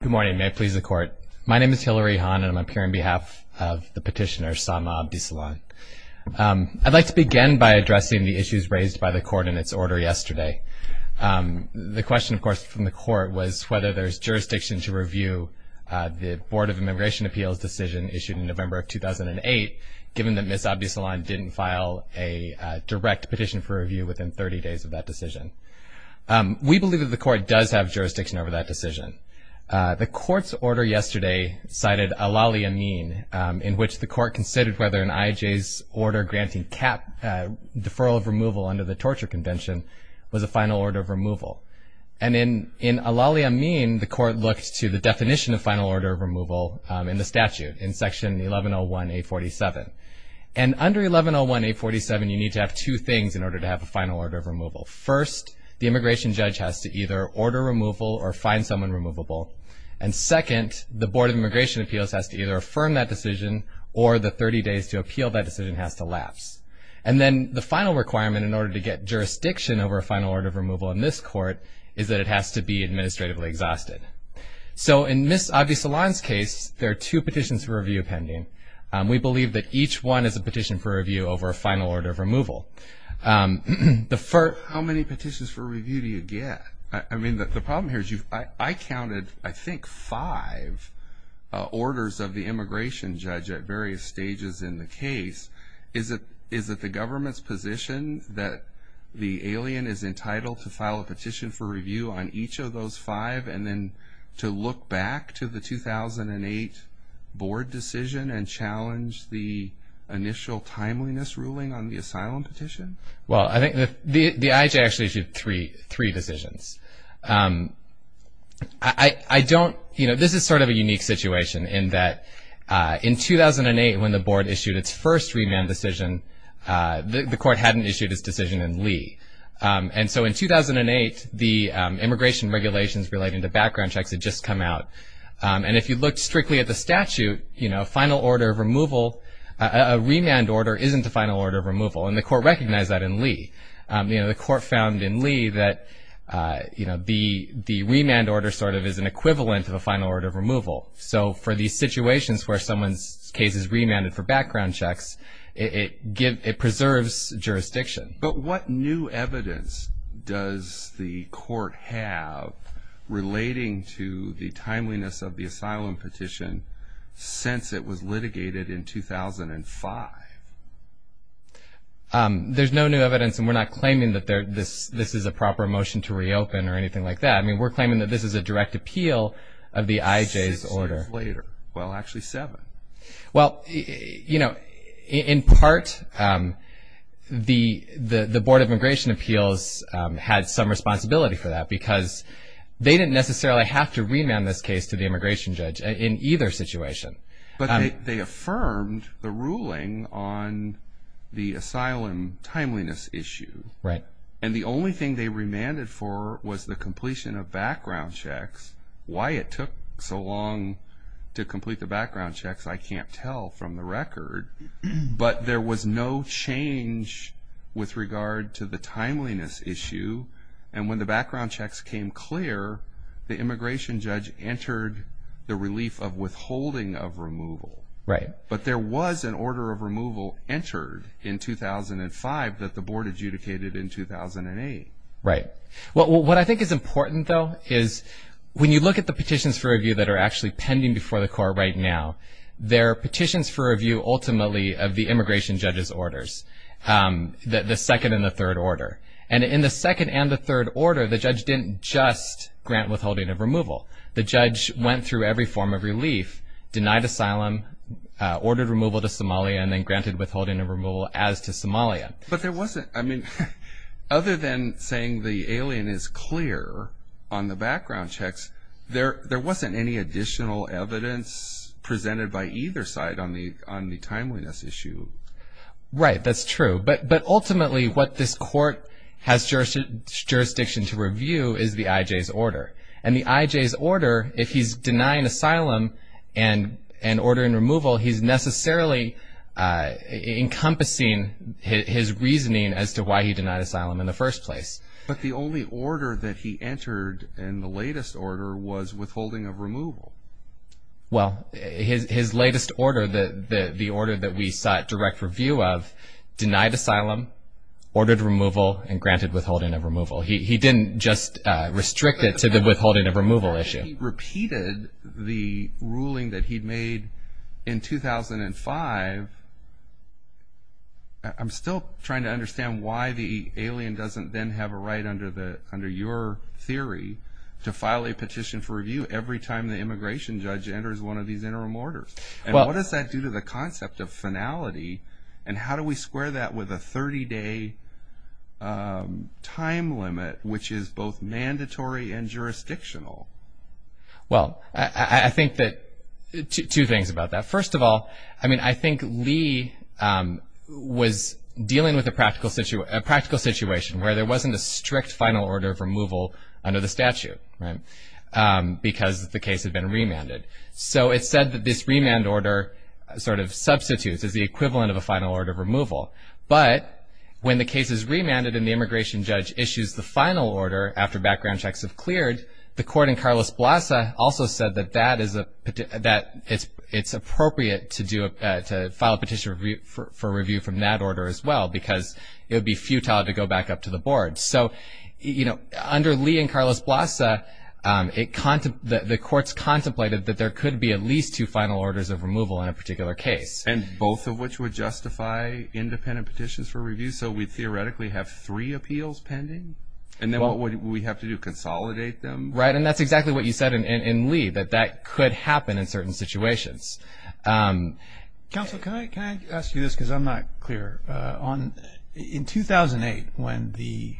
Good morning. May it please the Court. My name is Hillary Hahn, and I'm up here on behalf of the petitioner, Sama Abdisalan. I'd like to begin by addressing the issues raised by the Court in its order yesterday. The question, of course, from the Court was whether there's jurisdiction to review the Board of Immigration Appeals decision issued in November of 2008, given that Ms. Abdisalan didn't file a direct petition for review within 30 days of that decision. We believe that the Court does have jurisdiction over that decision. The Court's order yesterday cited Al-Ali Amin, in which the Court considered whether an IAJ's order granting cap deferral of removal under the Torture Convention was a final order of removal. And in Al-Ali Amin, the Court looked to the definition of final order of removal in the statute, in Section 1101-847. And under 1101-847, you need to have two things in order to have a final order of removal. First, the immigration judge has to either order removal or find someone removable. And second, the Board of Immigration Appeals has to either affirm that decision, or the 30 days to appeal that decision has to lapse. And then the final requirement in order to get jurisdiction over a final order of removal in this Court is that it has to be administratively exhausted. So in Ms. Abdisalan's case, there are two petitions for review pending. We believe that each one is a petition for review over a final order of removal. How many petitions for review do you get? I mean, the problem here is I counted, I think, five orders of the immigration judge at various stages in the case. Is it the government's position that the alien is entitled to file a petition for review on each of those five and then to look back to the 2008 Board decision and challenge the initial timeliness ruling on the asylum petition? Well, I think the IHA actually issued three decisions. I don't, you know, this is sort of a unique situation in that in 2008, when the Board issued its first remand decision, the Court hadn't issued its decision in Lee. And so in 2008, the immigration regulations relating to background checks had just come out. And if you looked strictly at the statute, you know, a final order of removal, a remand order isn't a final order of removal. And the Court recognized that in Lee. You know, the Court found in Lee that, you know, the remand order sort of is an equivalent of a final order of removal. So for these situations where someone's case is remanded for background checks, it preserves jurisdiction. But what new evidence does the Court have relating to the timeliness of the asylum petition since it was litigated in 2005? There's no new evidence, and we're not claiming that this is a proper motion to reopen or anything like that. I mean, we're claiming that this is a direct appeal of the IJ's order. Six years later. Well, actually seven. Well, you know, in part, the Board of Immigration Appeals had some responsibility for that because they didn't necessarily have to remand this case to the immigration judge in either situation. But they affirmed the ruling on the asylum timeliness issue. Right. And the only thing they remanded for was the completion of background checks. Why it took so long to complete the background checks, I can't tell from the record. But there was no change with regard to the timeliness issue. And when the background checks came clear, the immigration judge entered the relief of withholding of removal. Right. But there was an order of removal entered in 2005 that the Board adjudicated in 2008. Right. What I think is important, though, is when you look at the petitions for review that are actually pending before the court right now, they're petitions for review ultimately of the immigration judge's orders, the second and the third order. And in the second and the third order, the judge didn't just grant withholding of removal. The judge went through every form of relief, denied asylum, ordered removal to Somalia, and then granted withholding of removal as to Somalia. But there wasn't, I mean, other than saying the alien is clear on the background checks, there wasn't any additional evidence presented by either side on the timeliness issue. Right. That's true. But ultimately what this court has jurisdiction to review is the IJ's order. And the IJ's order, if he's denying asylum and ordering removal, he's necessarily encompassing his reasoning as to why he denied asylum in the first place. But the only order that he entered in the latest order was withholding of removal. Well, his latest order, the order that we sought direct review of, denied asylum, ordered removal, and granted withholding of removal. He didn't just restrict it to the withholding of removal issue. He repeated the ruling that he'd made in 2005. I'm still trying to understand why the alien doesn't then have a right under your theory to file a petition for review every time the immigration judge enters one of these interim orders. And what does that do to the concept of finality, and how do we square that with a 30-day time limit, which is both mandatory and jurisdictional? Well, I think that two things about that. First of all, I mean, I think Lee was dealing with a practical situation where there wasn't a strict final order of removal under the statute because the case had been remanded. So it said that this remand order sort of substitutes as the equivalent of a final order of removal. But when the case is remanded and the immigration judge issues the final order after background checks have cleared, the court in Carlos Blassa also said that it's appropriate to file a petition for review from that order as well because it would be futile to go back up to the board. So, you know, under Lee and Carlos Blassa, the courts contemplated that there could be at least two final orders of removal in a particular case. And both of which would justify independent petitions for review. So we theoretically have three appeals pending, and then what would we have to do, consolidate them? Right, and that's exactly what you said in Lee, that that could happen in certain situations. Counsel, can I ask you this because I'm not clear? In 2008, when the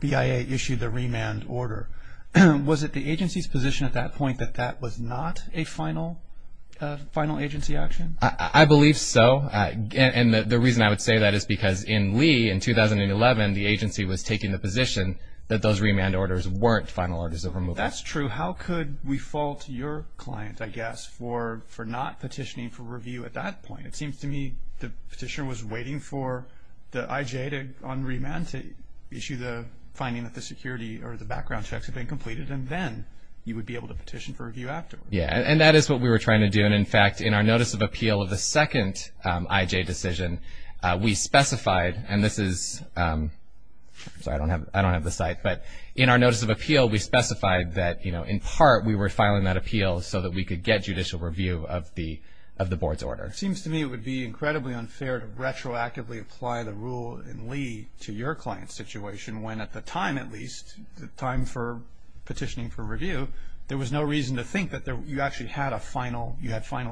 BIA issued the remand order, was it the agency's position at that point that that was not a final agency action? I believe so. And the reason I would say that is because in Lee, in 2011, the agency was taking the position that those remand orders weren't final orders of removal. That's true. How could we fault your client, I guess, for not petitioning for review at that point? It seems to me the petitioner was waiting for the IJ on remand to issue the finding that the security or the background checks had been completed, and then you would be able to petition for review afterwards. Yeah, and that is what we were trying to do. And, in fact, in our notice of appeal of the second IJ decision, we specified, and this is, I'm sorry, I don't have the site, but in our notice of appeal, we specified that, you know, in part, we were filing that appeal so that we could get judicial review of the board's order. It seems to me it would be incredibly unfair to retroactively apply the rule in Lee to your client's situation when at the time, at least, the time for petitioning for review, there was no reason to think that you actually had a final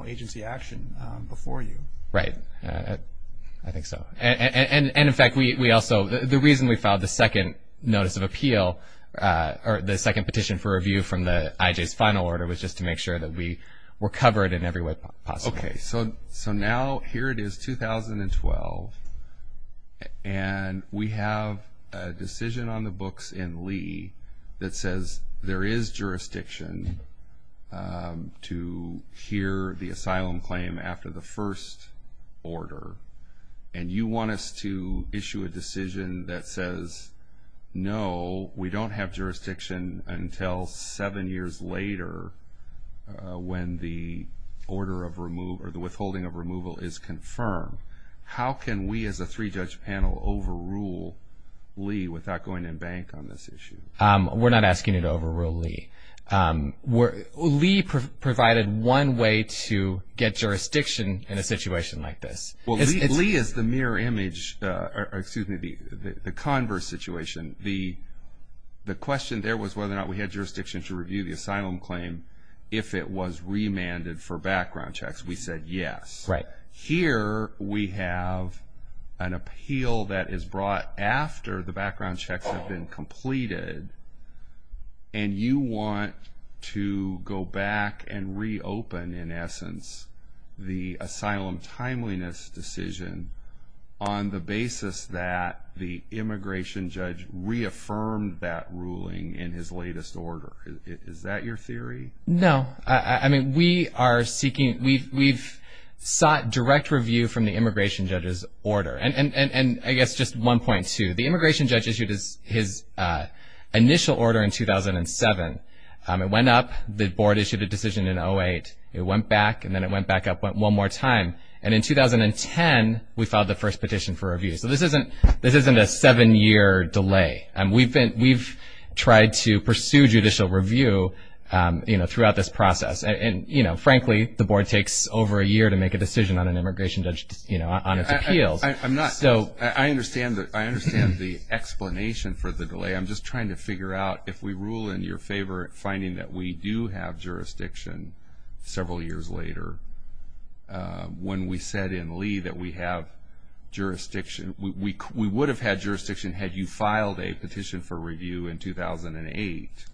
agency action before you. Right. I think so. And, in fact, the reason we filed the second notice of appeal, or the second petition for review from the IJ's final order, was just to make sure that we were covered in every way possible. Okay. So now here it is, 2012, and we have a decision on the books in Lee that says there is jurisdiction to hear the asylum claim after the first order. And you want us to issue a decision that says, no, we don't have jurisdiction until seven years later when the order of removal or the withholding of removal is confirmed. How can we as a three-judge panel overrule Lee without going to bank on this issue? We're not asking you to overrule Lee. Lee provided one way to get jurisdiction in a situation like this. Well, Lee is the mirror image, or excuse me, the converse situation. The question there was whether or not we had jurisdiction to review the asylum claim if it was remanded for background checks. We said yes. Right. Here we have an appeal that is brought after the background checks have been completed, and you want to go back and reopen, in essence, the asylum timeliness decision on the basis that the immigration judge reaffirmed that ruling in his latest order. Is that your theory? No. I mean, we've sought direct review from the immigration judge's order. And I guess just one point, too. The immigration judge issued his initial order in 2007. It went up. The board issued a decision in 2008. It went back, and then it went back up one more time. And in 2010, we filed the first petition for review. So this isn't a seven-year delay. We've tried to pursue judicial review throughout this process. And, you know, frankly, the board takes over a year to make a decision on an immigration judge, you know, on its appeals. I understand the explanation for the delay. I'm just trying to figure out if we rule in your favor at finding that we do have jurisdiction several years later when we said in Lee that we have jurisdiction. We would have had jurisdiction had you filed a petition for review in 2008,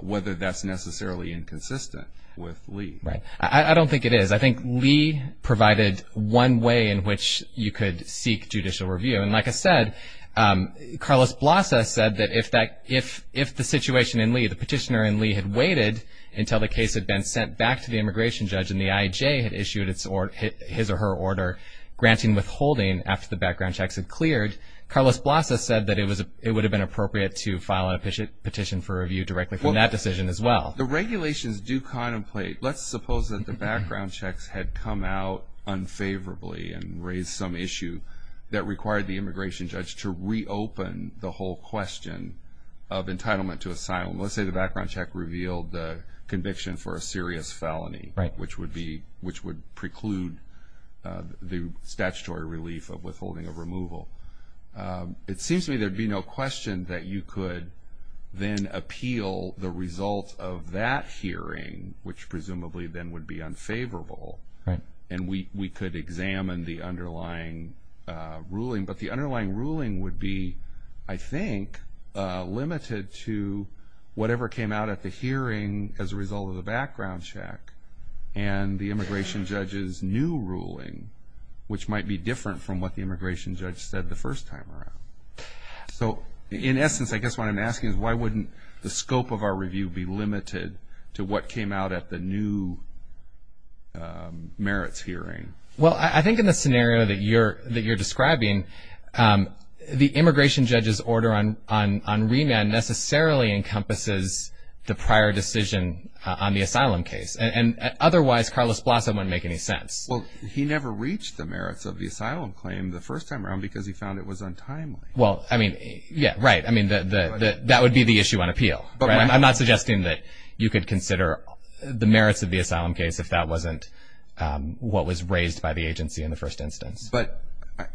whether that's necessarily inconsistent with Lee. I don't think it is. I think Lee provided one way in which you could seek judicial review. And like I said, Carlos Blassa said that if the situation in Lee, the petitioner in Lee, had waited until the case had been sent back to the immigration judge and the IAJ had issued his or her order granting withholding after the background checks had cleared, Carlos Blassa said that it would have been appropriate to file a petition for review directly from that decision as well. The regulations do contemplate. Let's suppose that the background checks had come out unfavorably and raised some issue that required the immigration judge to reopen the whole question of entitlement to asylum. Let's say the background check revealed the conviction for a serious felony, which would preclude the statutory relief of withholding of removal. It seems to me there would be no question that you could then appeal the result of that hearing, which presumably then would be unfavorable, and we could examine the underlying ruling. But the underlying ruling would be, I think, limited to whatever came out at the hearing as a result of the background check and the immigration judge's new ruling, which might be different from what the immigration judge said the first time around. So, in essence, I guess what I'm asking is why wouldn't the scope of our review be limited to what came out at the new merits hearing? Well, I think in the scenario that you're describing, the immigration judge's order on remand necessarily encompasses the prior decision on the asylum case, and otherwise Carlos Blasso wouldn't make any sense. Well, he never reached the merits of the asylum claim the first time around because he found it was untimely. Well, I mean, yeah, right. I mean, that would be the issue on appeal. I'm not suggesting that you could consider the merits of the asylum case if that wasn't what was raised by the agency in the first instance. But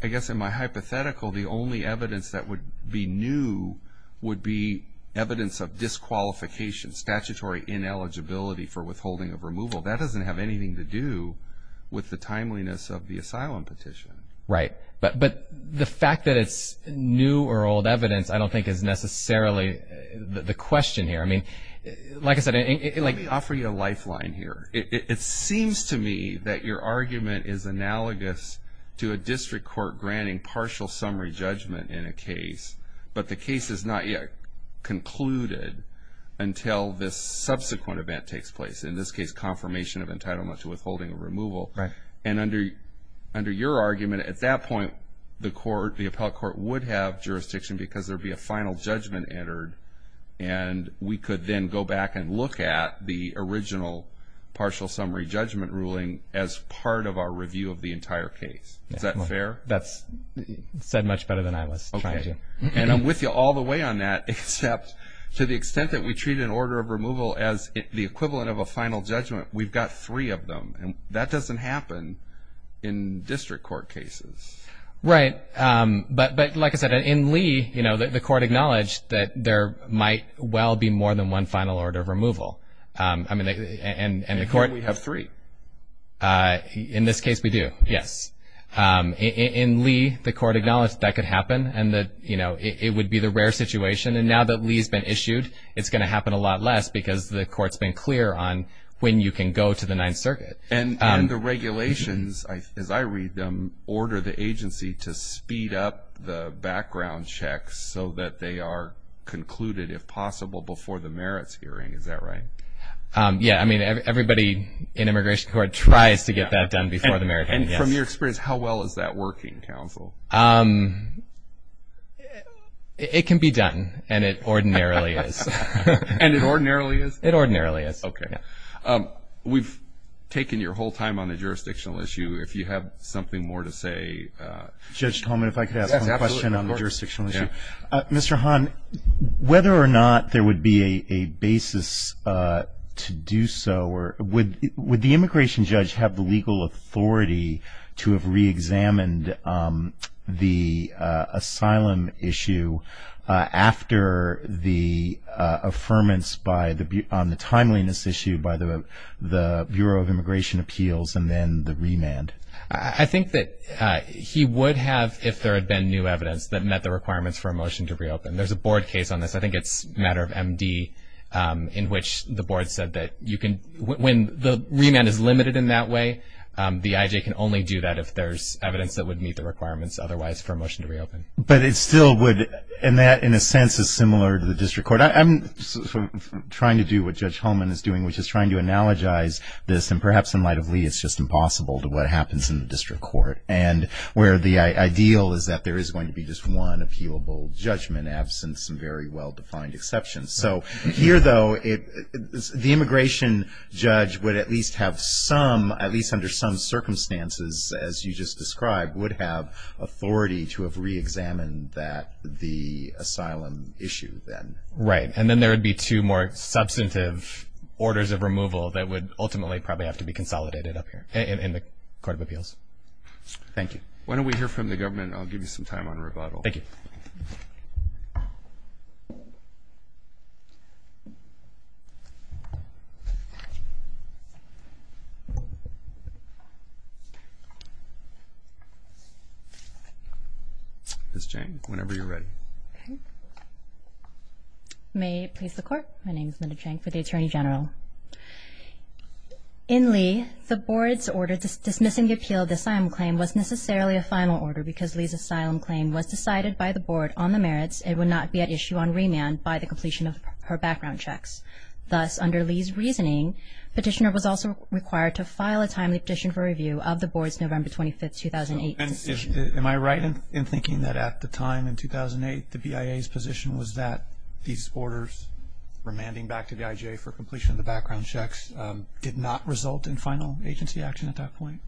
I guess in my hypothetical, the only evidence that would be new would be evidence of disqualification, statutory ineligibility for withholding of removal. That doesn't have anything to do with the timeliness of the asylum petition. Right. But the fact that it's new or old evidence I don't think is necessarily the question here. I mean, like I said— Let me offer you a lifeline here. It seems to me that your argument is analogous to a district court granting partial summary judgment in a case, but the case is not yet concluded until this subsequent event takes place, in this case confirmation of entitlement to withholding of removal. Right. And under your argument, at that point, the appellate court would have jurisdiction because there would be a final judgment entered, and we could then go back and look at the original partial summary judgment ruling as part of our review of the entire case. Is that fair? That's said much better than I was trying to. And I'm with you all the way on that, except to the extent that we treat an order of removal as the equivalent of a final judgment, we've got three of them, and that doesn't happen in district court cases. Right. But like I said, in Lee, you know, the court acknowledged that there might well be more than one final order of removal. And the court— And we have three. In this case, we do, yes. In Lee, the court acknowledged that could happen and that, you know, it would be the rare situation, and now that Lee's been issued, it's going to happen a lot less because the court's been clear on when you can go to the Ninth Circuit. And the regulations, as I read them, order the agency to speed up the background checks so that they are concluded, if possible, before the merits hearing. Is that right? Yeah. I mean, everybody in immigration court tries to get that done before the merits hearing, yes. And from your experience, how well is that working, counsel? It can be done, and it ordinarily is. And it ordinarily is? It ordinarily is. Okay. We've taken your whole time on the jurisdictional issue. If you have something more to say. Judge Tolman, if I could ask one question on the jurisdictional issue. Mr. Hahn, whether or not there would be a basis to do so, would the immigration judge have the legal authority to have reexamined the asylum issue after the affirmance on the timeliness issue by the Bureau of Immigration Appeals and then the remand? I think that he would have if there had been new evidence that met the requirements for a motion to reopen. There's a board case on this. I think it's a matter of MD in which the board said that when the remand is limited in that way, the IJ can only do that if there's evidence that would meet the requirements otherwise for a motion to reopen. But it still would. And that in a sense is similar to the district court. I'm trying to do what Judge Holman is doing, which is trying to analogize this. And perhaps in light of Lee, it's just impossible to what happens in the district court and where the ideal is that there is going to be just one appealable judgment, absent some very well-defined exceptions. So here, though, the immigration judge would at least have some, at least under some circumstances, as you just described, would have authority to have reexamined the asylum issue then. Right. And then there would be two more substantive orders of removal that would ultimately probably have to be consolidated up here in the Court of Appeals. Thank you. Why don't we hear from the government, and I'll give you some time on rebuttal. Thank you. Ms. Chang, whenever you're ready. May it please the Court. My name is Linda Chang for the Attorney General. In Lee, the Board's order dismissing the appeal of the asylum claim was necessarily a final order because Lee's asylum claim was decided by the Board on the merits. It would not be at issue on remand by the completion of her background checks. Thus, under Lee's reasoning, So am I right in thinking that at the time, in 2008, the BIA's position was that these orders remanding back to the IJA for completion of the background checks did not result in final agency action at that point?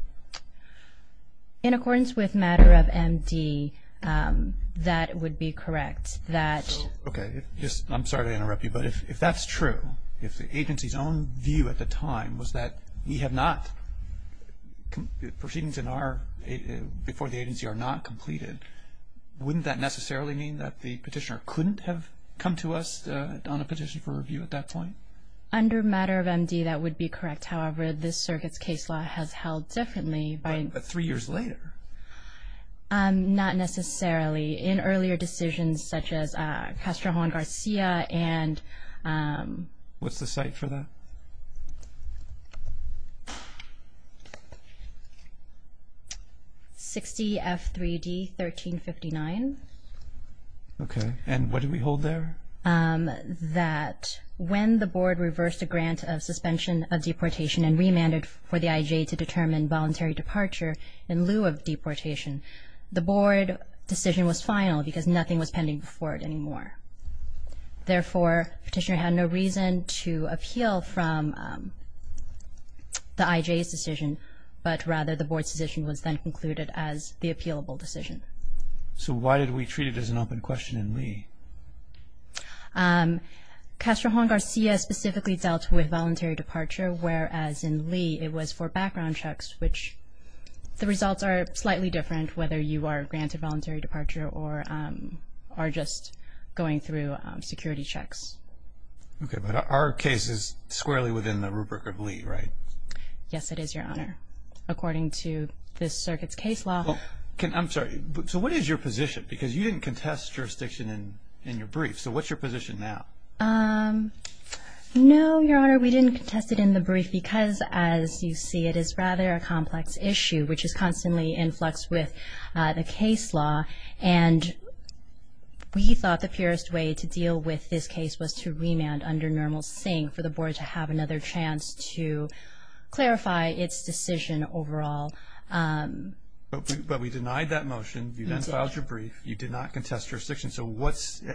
In accordance with matter of MD, that would be correct. Okay. I'm sorry to interrupt you, but if that's true, if the agency's own view at the time was that proceedings before the agency are not completed, wouldn't that necessarily mean that the petitioner couldn't have come to us on a petition for review at that point? Under matter of MD, that would be correct. However, this circuit's case law has held differently. But three years later. Not necessarily. In earlier decisions such as Castro Juan Garcia and What's the site for that? 60F3D1359. Okay. And what did we hold there? That when the Board reversed a grant of suspension of deportation and remanded for the IJA to determine voluntary departure in lieu of deportation, the Board decision was final because nothing was pending before it anymore. Therefore, petitioner had no reason to appeal from the IJA's decision, but rather the Board's decision was then concluded as the appealable decision. So why did we treat it as an open question in lieu? Castro Juan Garcia specifically dealt with voluntary departure, whereas in lieu it was for background checks, which the results are slightly different, whether you are granted voluntary departure or are just going through security checks. Okay. But our case is squarely within the rubric of lieu, right? Yes, it is, Your Honor. According to this circuit's case law. I'm sorry. So what is your position? Because you didn't contest jurisdiction in your brief. So what's your position now? No, Your Honor. We didn't contest it in the brief because, as you see, it is rather a complex issue, which is constantly in flux with the case law, and we thought the purest way to deal with this case was to remand under normal sync for the Board to have another chance to clarify its decision overall. But we denied that motion. You then filed your brief. You did not contest jurisdiction. So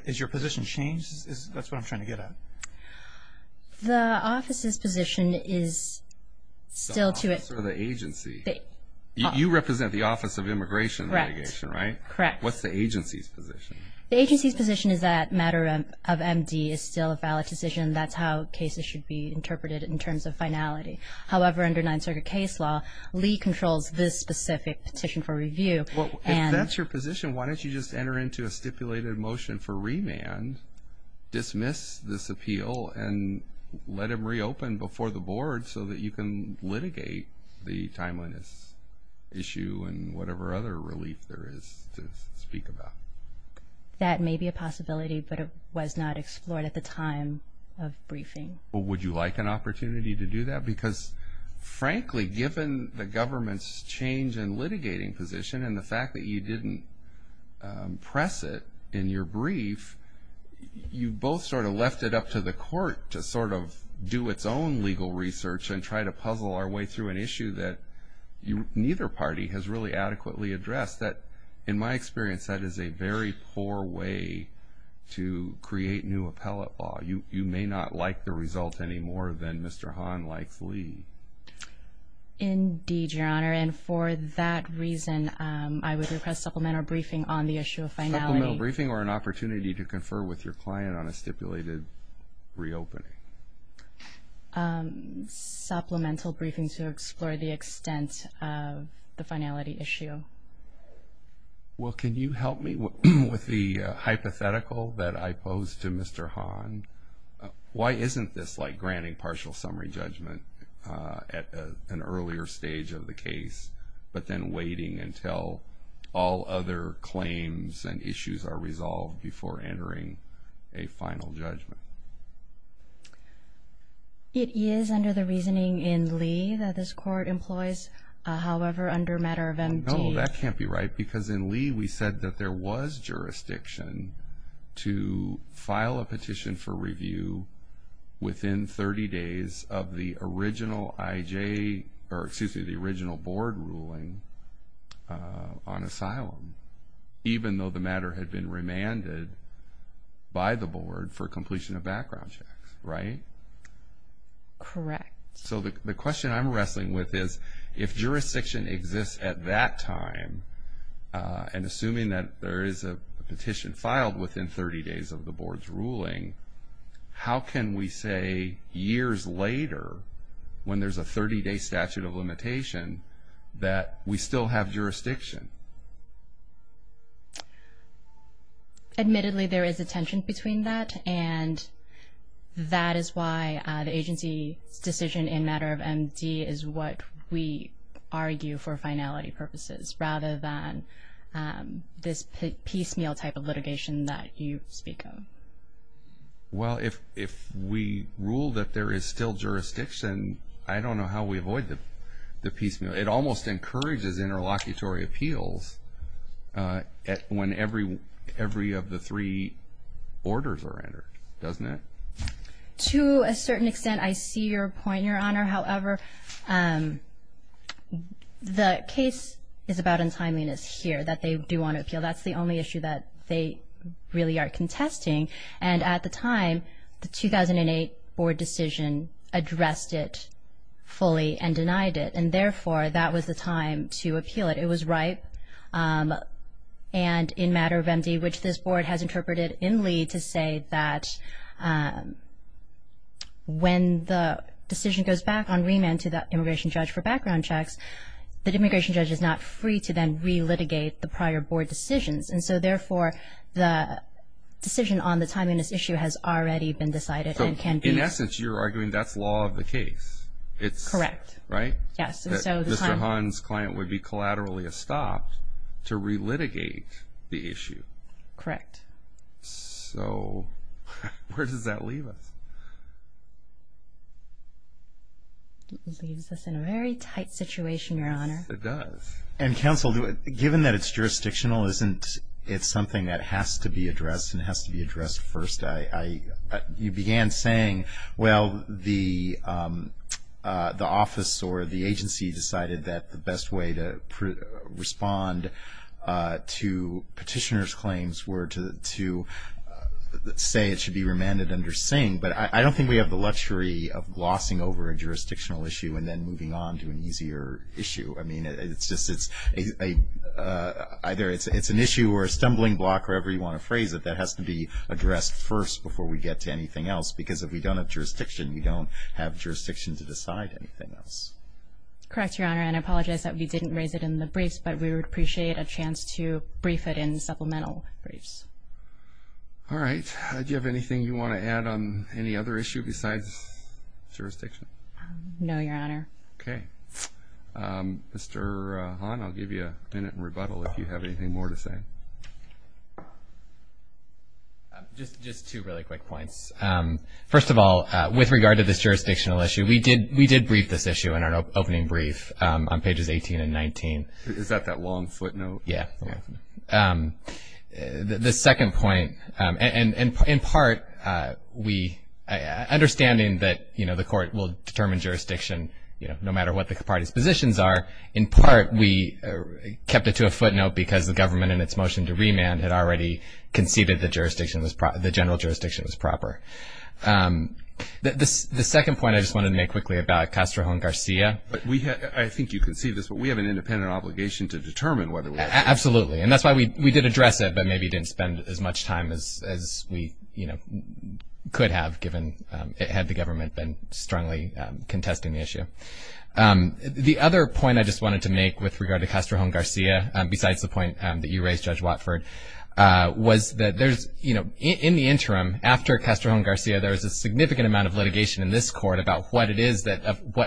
is your position changed? That's what I'm trying to get at. The office's position is still to it. The office or the agency? You represent the Office of Immigration and Mitigation, right? Correct. What's the agency's position? The agency's position is that matter of MD is still a valid decision. That's how cases should be interpreted in terms of finality. However, under Ninth Circuit case law, lieu controls this specific petition for review. If that's your position, why don't you just enter into a stipulated motion for remand, dismiss this appeal, and let them reopen before the Board so that you can litigate the timeliness issue and whatever other relief there is to speak about? That may be a possibility, but it was not explored at the time of briefing. Would you like an opportunity to do that? Because, frankly, given the government's change in litigating position and the fact that you didn't press it in your brief, you both sort of left it up to the court to sort of do its own legal research and try to puzzle our way through an issue that neither party has really adequately addressed. In my experience, that is a very poor way to create new appellate law. You may not like the result any more than Mr. Hahn likes lieu. Indeed, Your Honor, and for that reason, I would request supplemental briefing on the issue of finality. Supplemental briefing or an opportunity to confer with your client on a stipulated reopening? Supplemental briefing to explore the extent of the finality issue. Well, can you help me with the hypothetical that I posed to Mr. Hahn? Why isn't this like granting partial summary judgment at an earlier stage of the case but then waiting until all other claims and issues are resolved before entering a final judgment? It is under the reasoning in Lee that this court employs, however, under matter of MD. No, that can't be right because in Lee we said that there was jurisdiction to file a petition for review within 30 days of the original IJ, or excuse me, the original board ruling on asylum, even though the matter had been remanded by the board for completion of background checks, right? Correct. So the question I'm wrestling with is if jurisdiction exists at that time and assuming that there is a petition filed within 30 days of the board's ruling, how can we say years later when there's a 30-day statute of limitation that we still have jurisdiction? Admittedly, there is a tension between that and that is why the agency's decision in matter of MD is what we argue for finality purposes rather than this piecemeal type of litigation that you speak of. Well, if we rule that there is still jurisdiction, I don't know how we avoid the piecemeal. It almost encourages interlocutory appeals when every of the three orders are entered, doesn't it? To a certain extent, I see your point, Your Honor. However, the case is about untimeliness here, that they do want to appeal. That's the only issue that they really are contesting. And at the time, the 2008 board decision addressed it fully and denied it, and therefore that was the time to appeal it. It was ripe, and in matter of MD, which this board has interpreted in Lee to say that when the decision goes back on remand to the immigration judge for background checks, the immigration judge is not free to then re-litigate the prior board decisions. And so, therefore, the decision on the timeliness issue has already been decided and can be… So, in essence, you're arguing that's law of the case. Correct. Right? Yes. Mr. Hahn's client would be collaterally estopped to re-litigate the issue. Correct. So, where does that leave us? It leaves us in a very tight situation, Your Honor. Yes, it does. And counsel, given that it's jurisdictional, isn't it something that has to be addressed and has to be addressed first? You began saying, well, the office or the agency decided that the best way to respond to petitioner's claims were to say it should be remanded under Singh, but I don't think we have the luxury of glossing over a jurisdictional issue and then moving on to an easier issue. I mean, it's just an issue or a stumbling block, wherever you want to phrase it, that has to be addressed first before we get to anything else, because if we don't have jurisdiction, we don't have jurisdiction to decide anything else. Correct, Your Honor, and I apologize that we didn't raise it in the briefs, but we would appreciate a chance to brief it in supplemental briefs. All right, do you have anything you want to add on any other issue besides jurisdiction? No, Your Honor. Okay. Mr. Hahn, I'll give you a minute in rebuttal if you have anything more to say. Just two really quick points. First of all, with regard to this jurisdictional issue, we did brief this issue in our opening brief on pages 18 and 19. Is that that long footnote? Yeah. The second point, in part, understanding that, you know, the Court will determine jurisdiction no matter what the parties' positions are, in part we kept it to a footnote because the government in its motion to remand had already conceded the general jurisdiction was proper. The second point I just wanted to make quickly about Castro and Garcia. I think you conceded this, but we have an independent obligation to determine whether we have to. Absolutely, and that's why we did address it, but maybe didn't spend as much time as we, you know, could have given, had the government been strongly contesting the issue. The other point I just wanted to make with regard to Castro and Garcia, besides the point that you raised, Judge Watford, was that there's, you know, in the interim, after Castro and Garcia, there was a significant amount of litigation in this Court about what it is that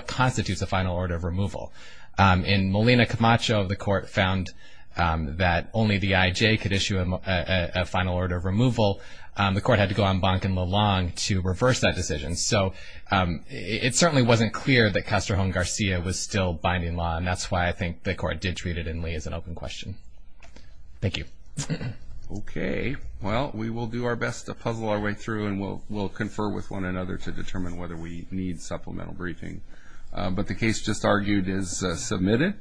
constitutes a final order of removal. In Molina Camacho, the Court found that only the I.J. could issue a final order of removal. The Court had to go on Bank and Lalong to reverse that decision. So it certainly wasn't clear that Castro and Garcia was still binding law, and that's why I think the Court did treat it in Lee as an open question. Thank you. Okay. Well, we will do our best to puzzle our way through, and we'll confer with one another to determine whether we need supplemental briefing. But the case just argued is submitted.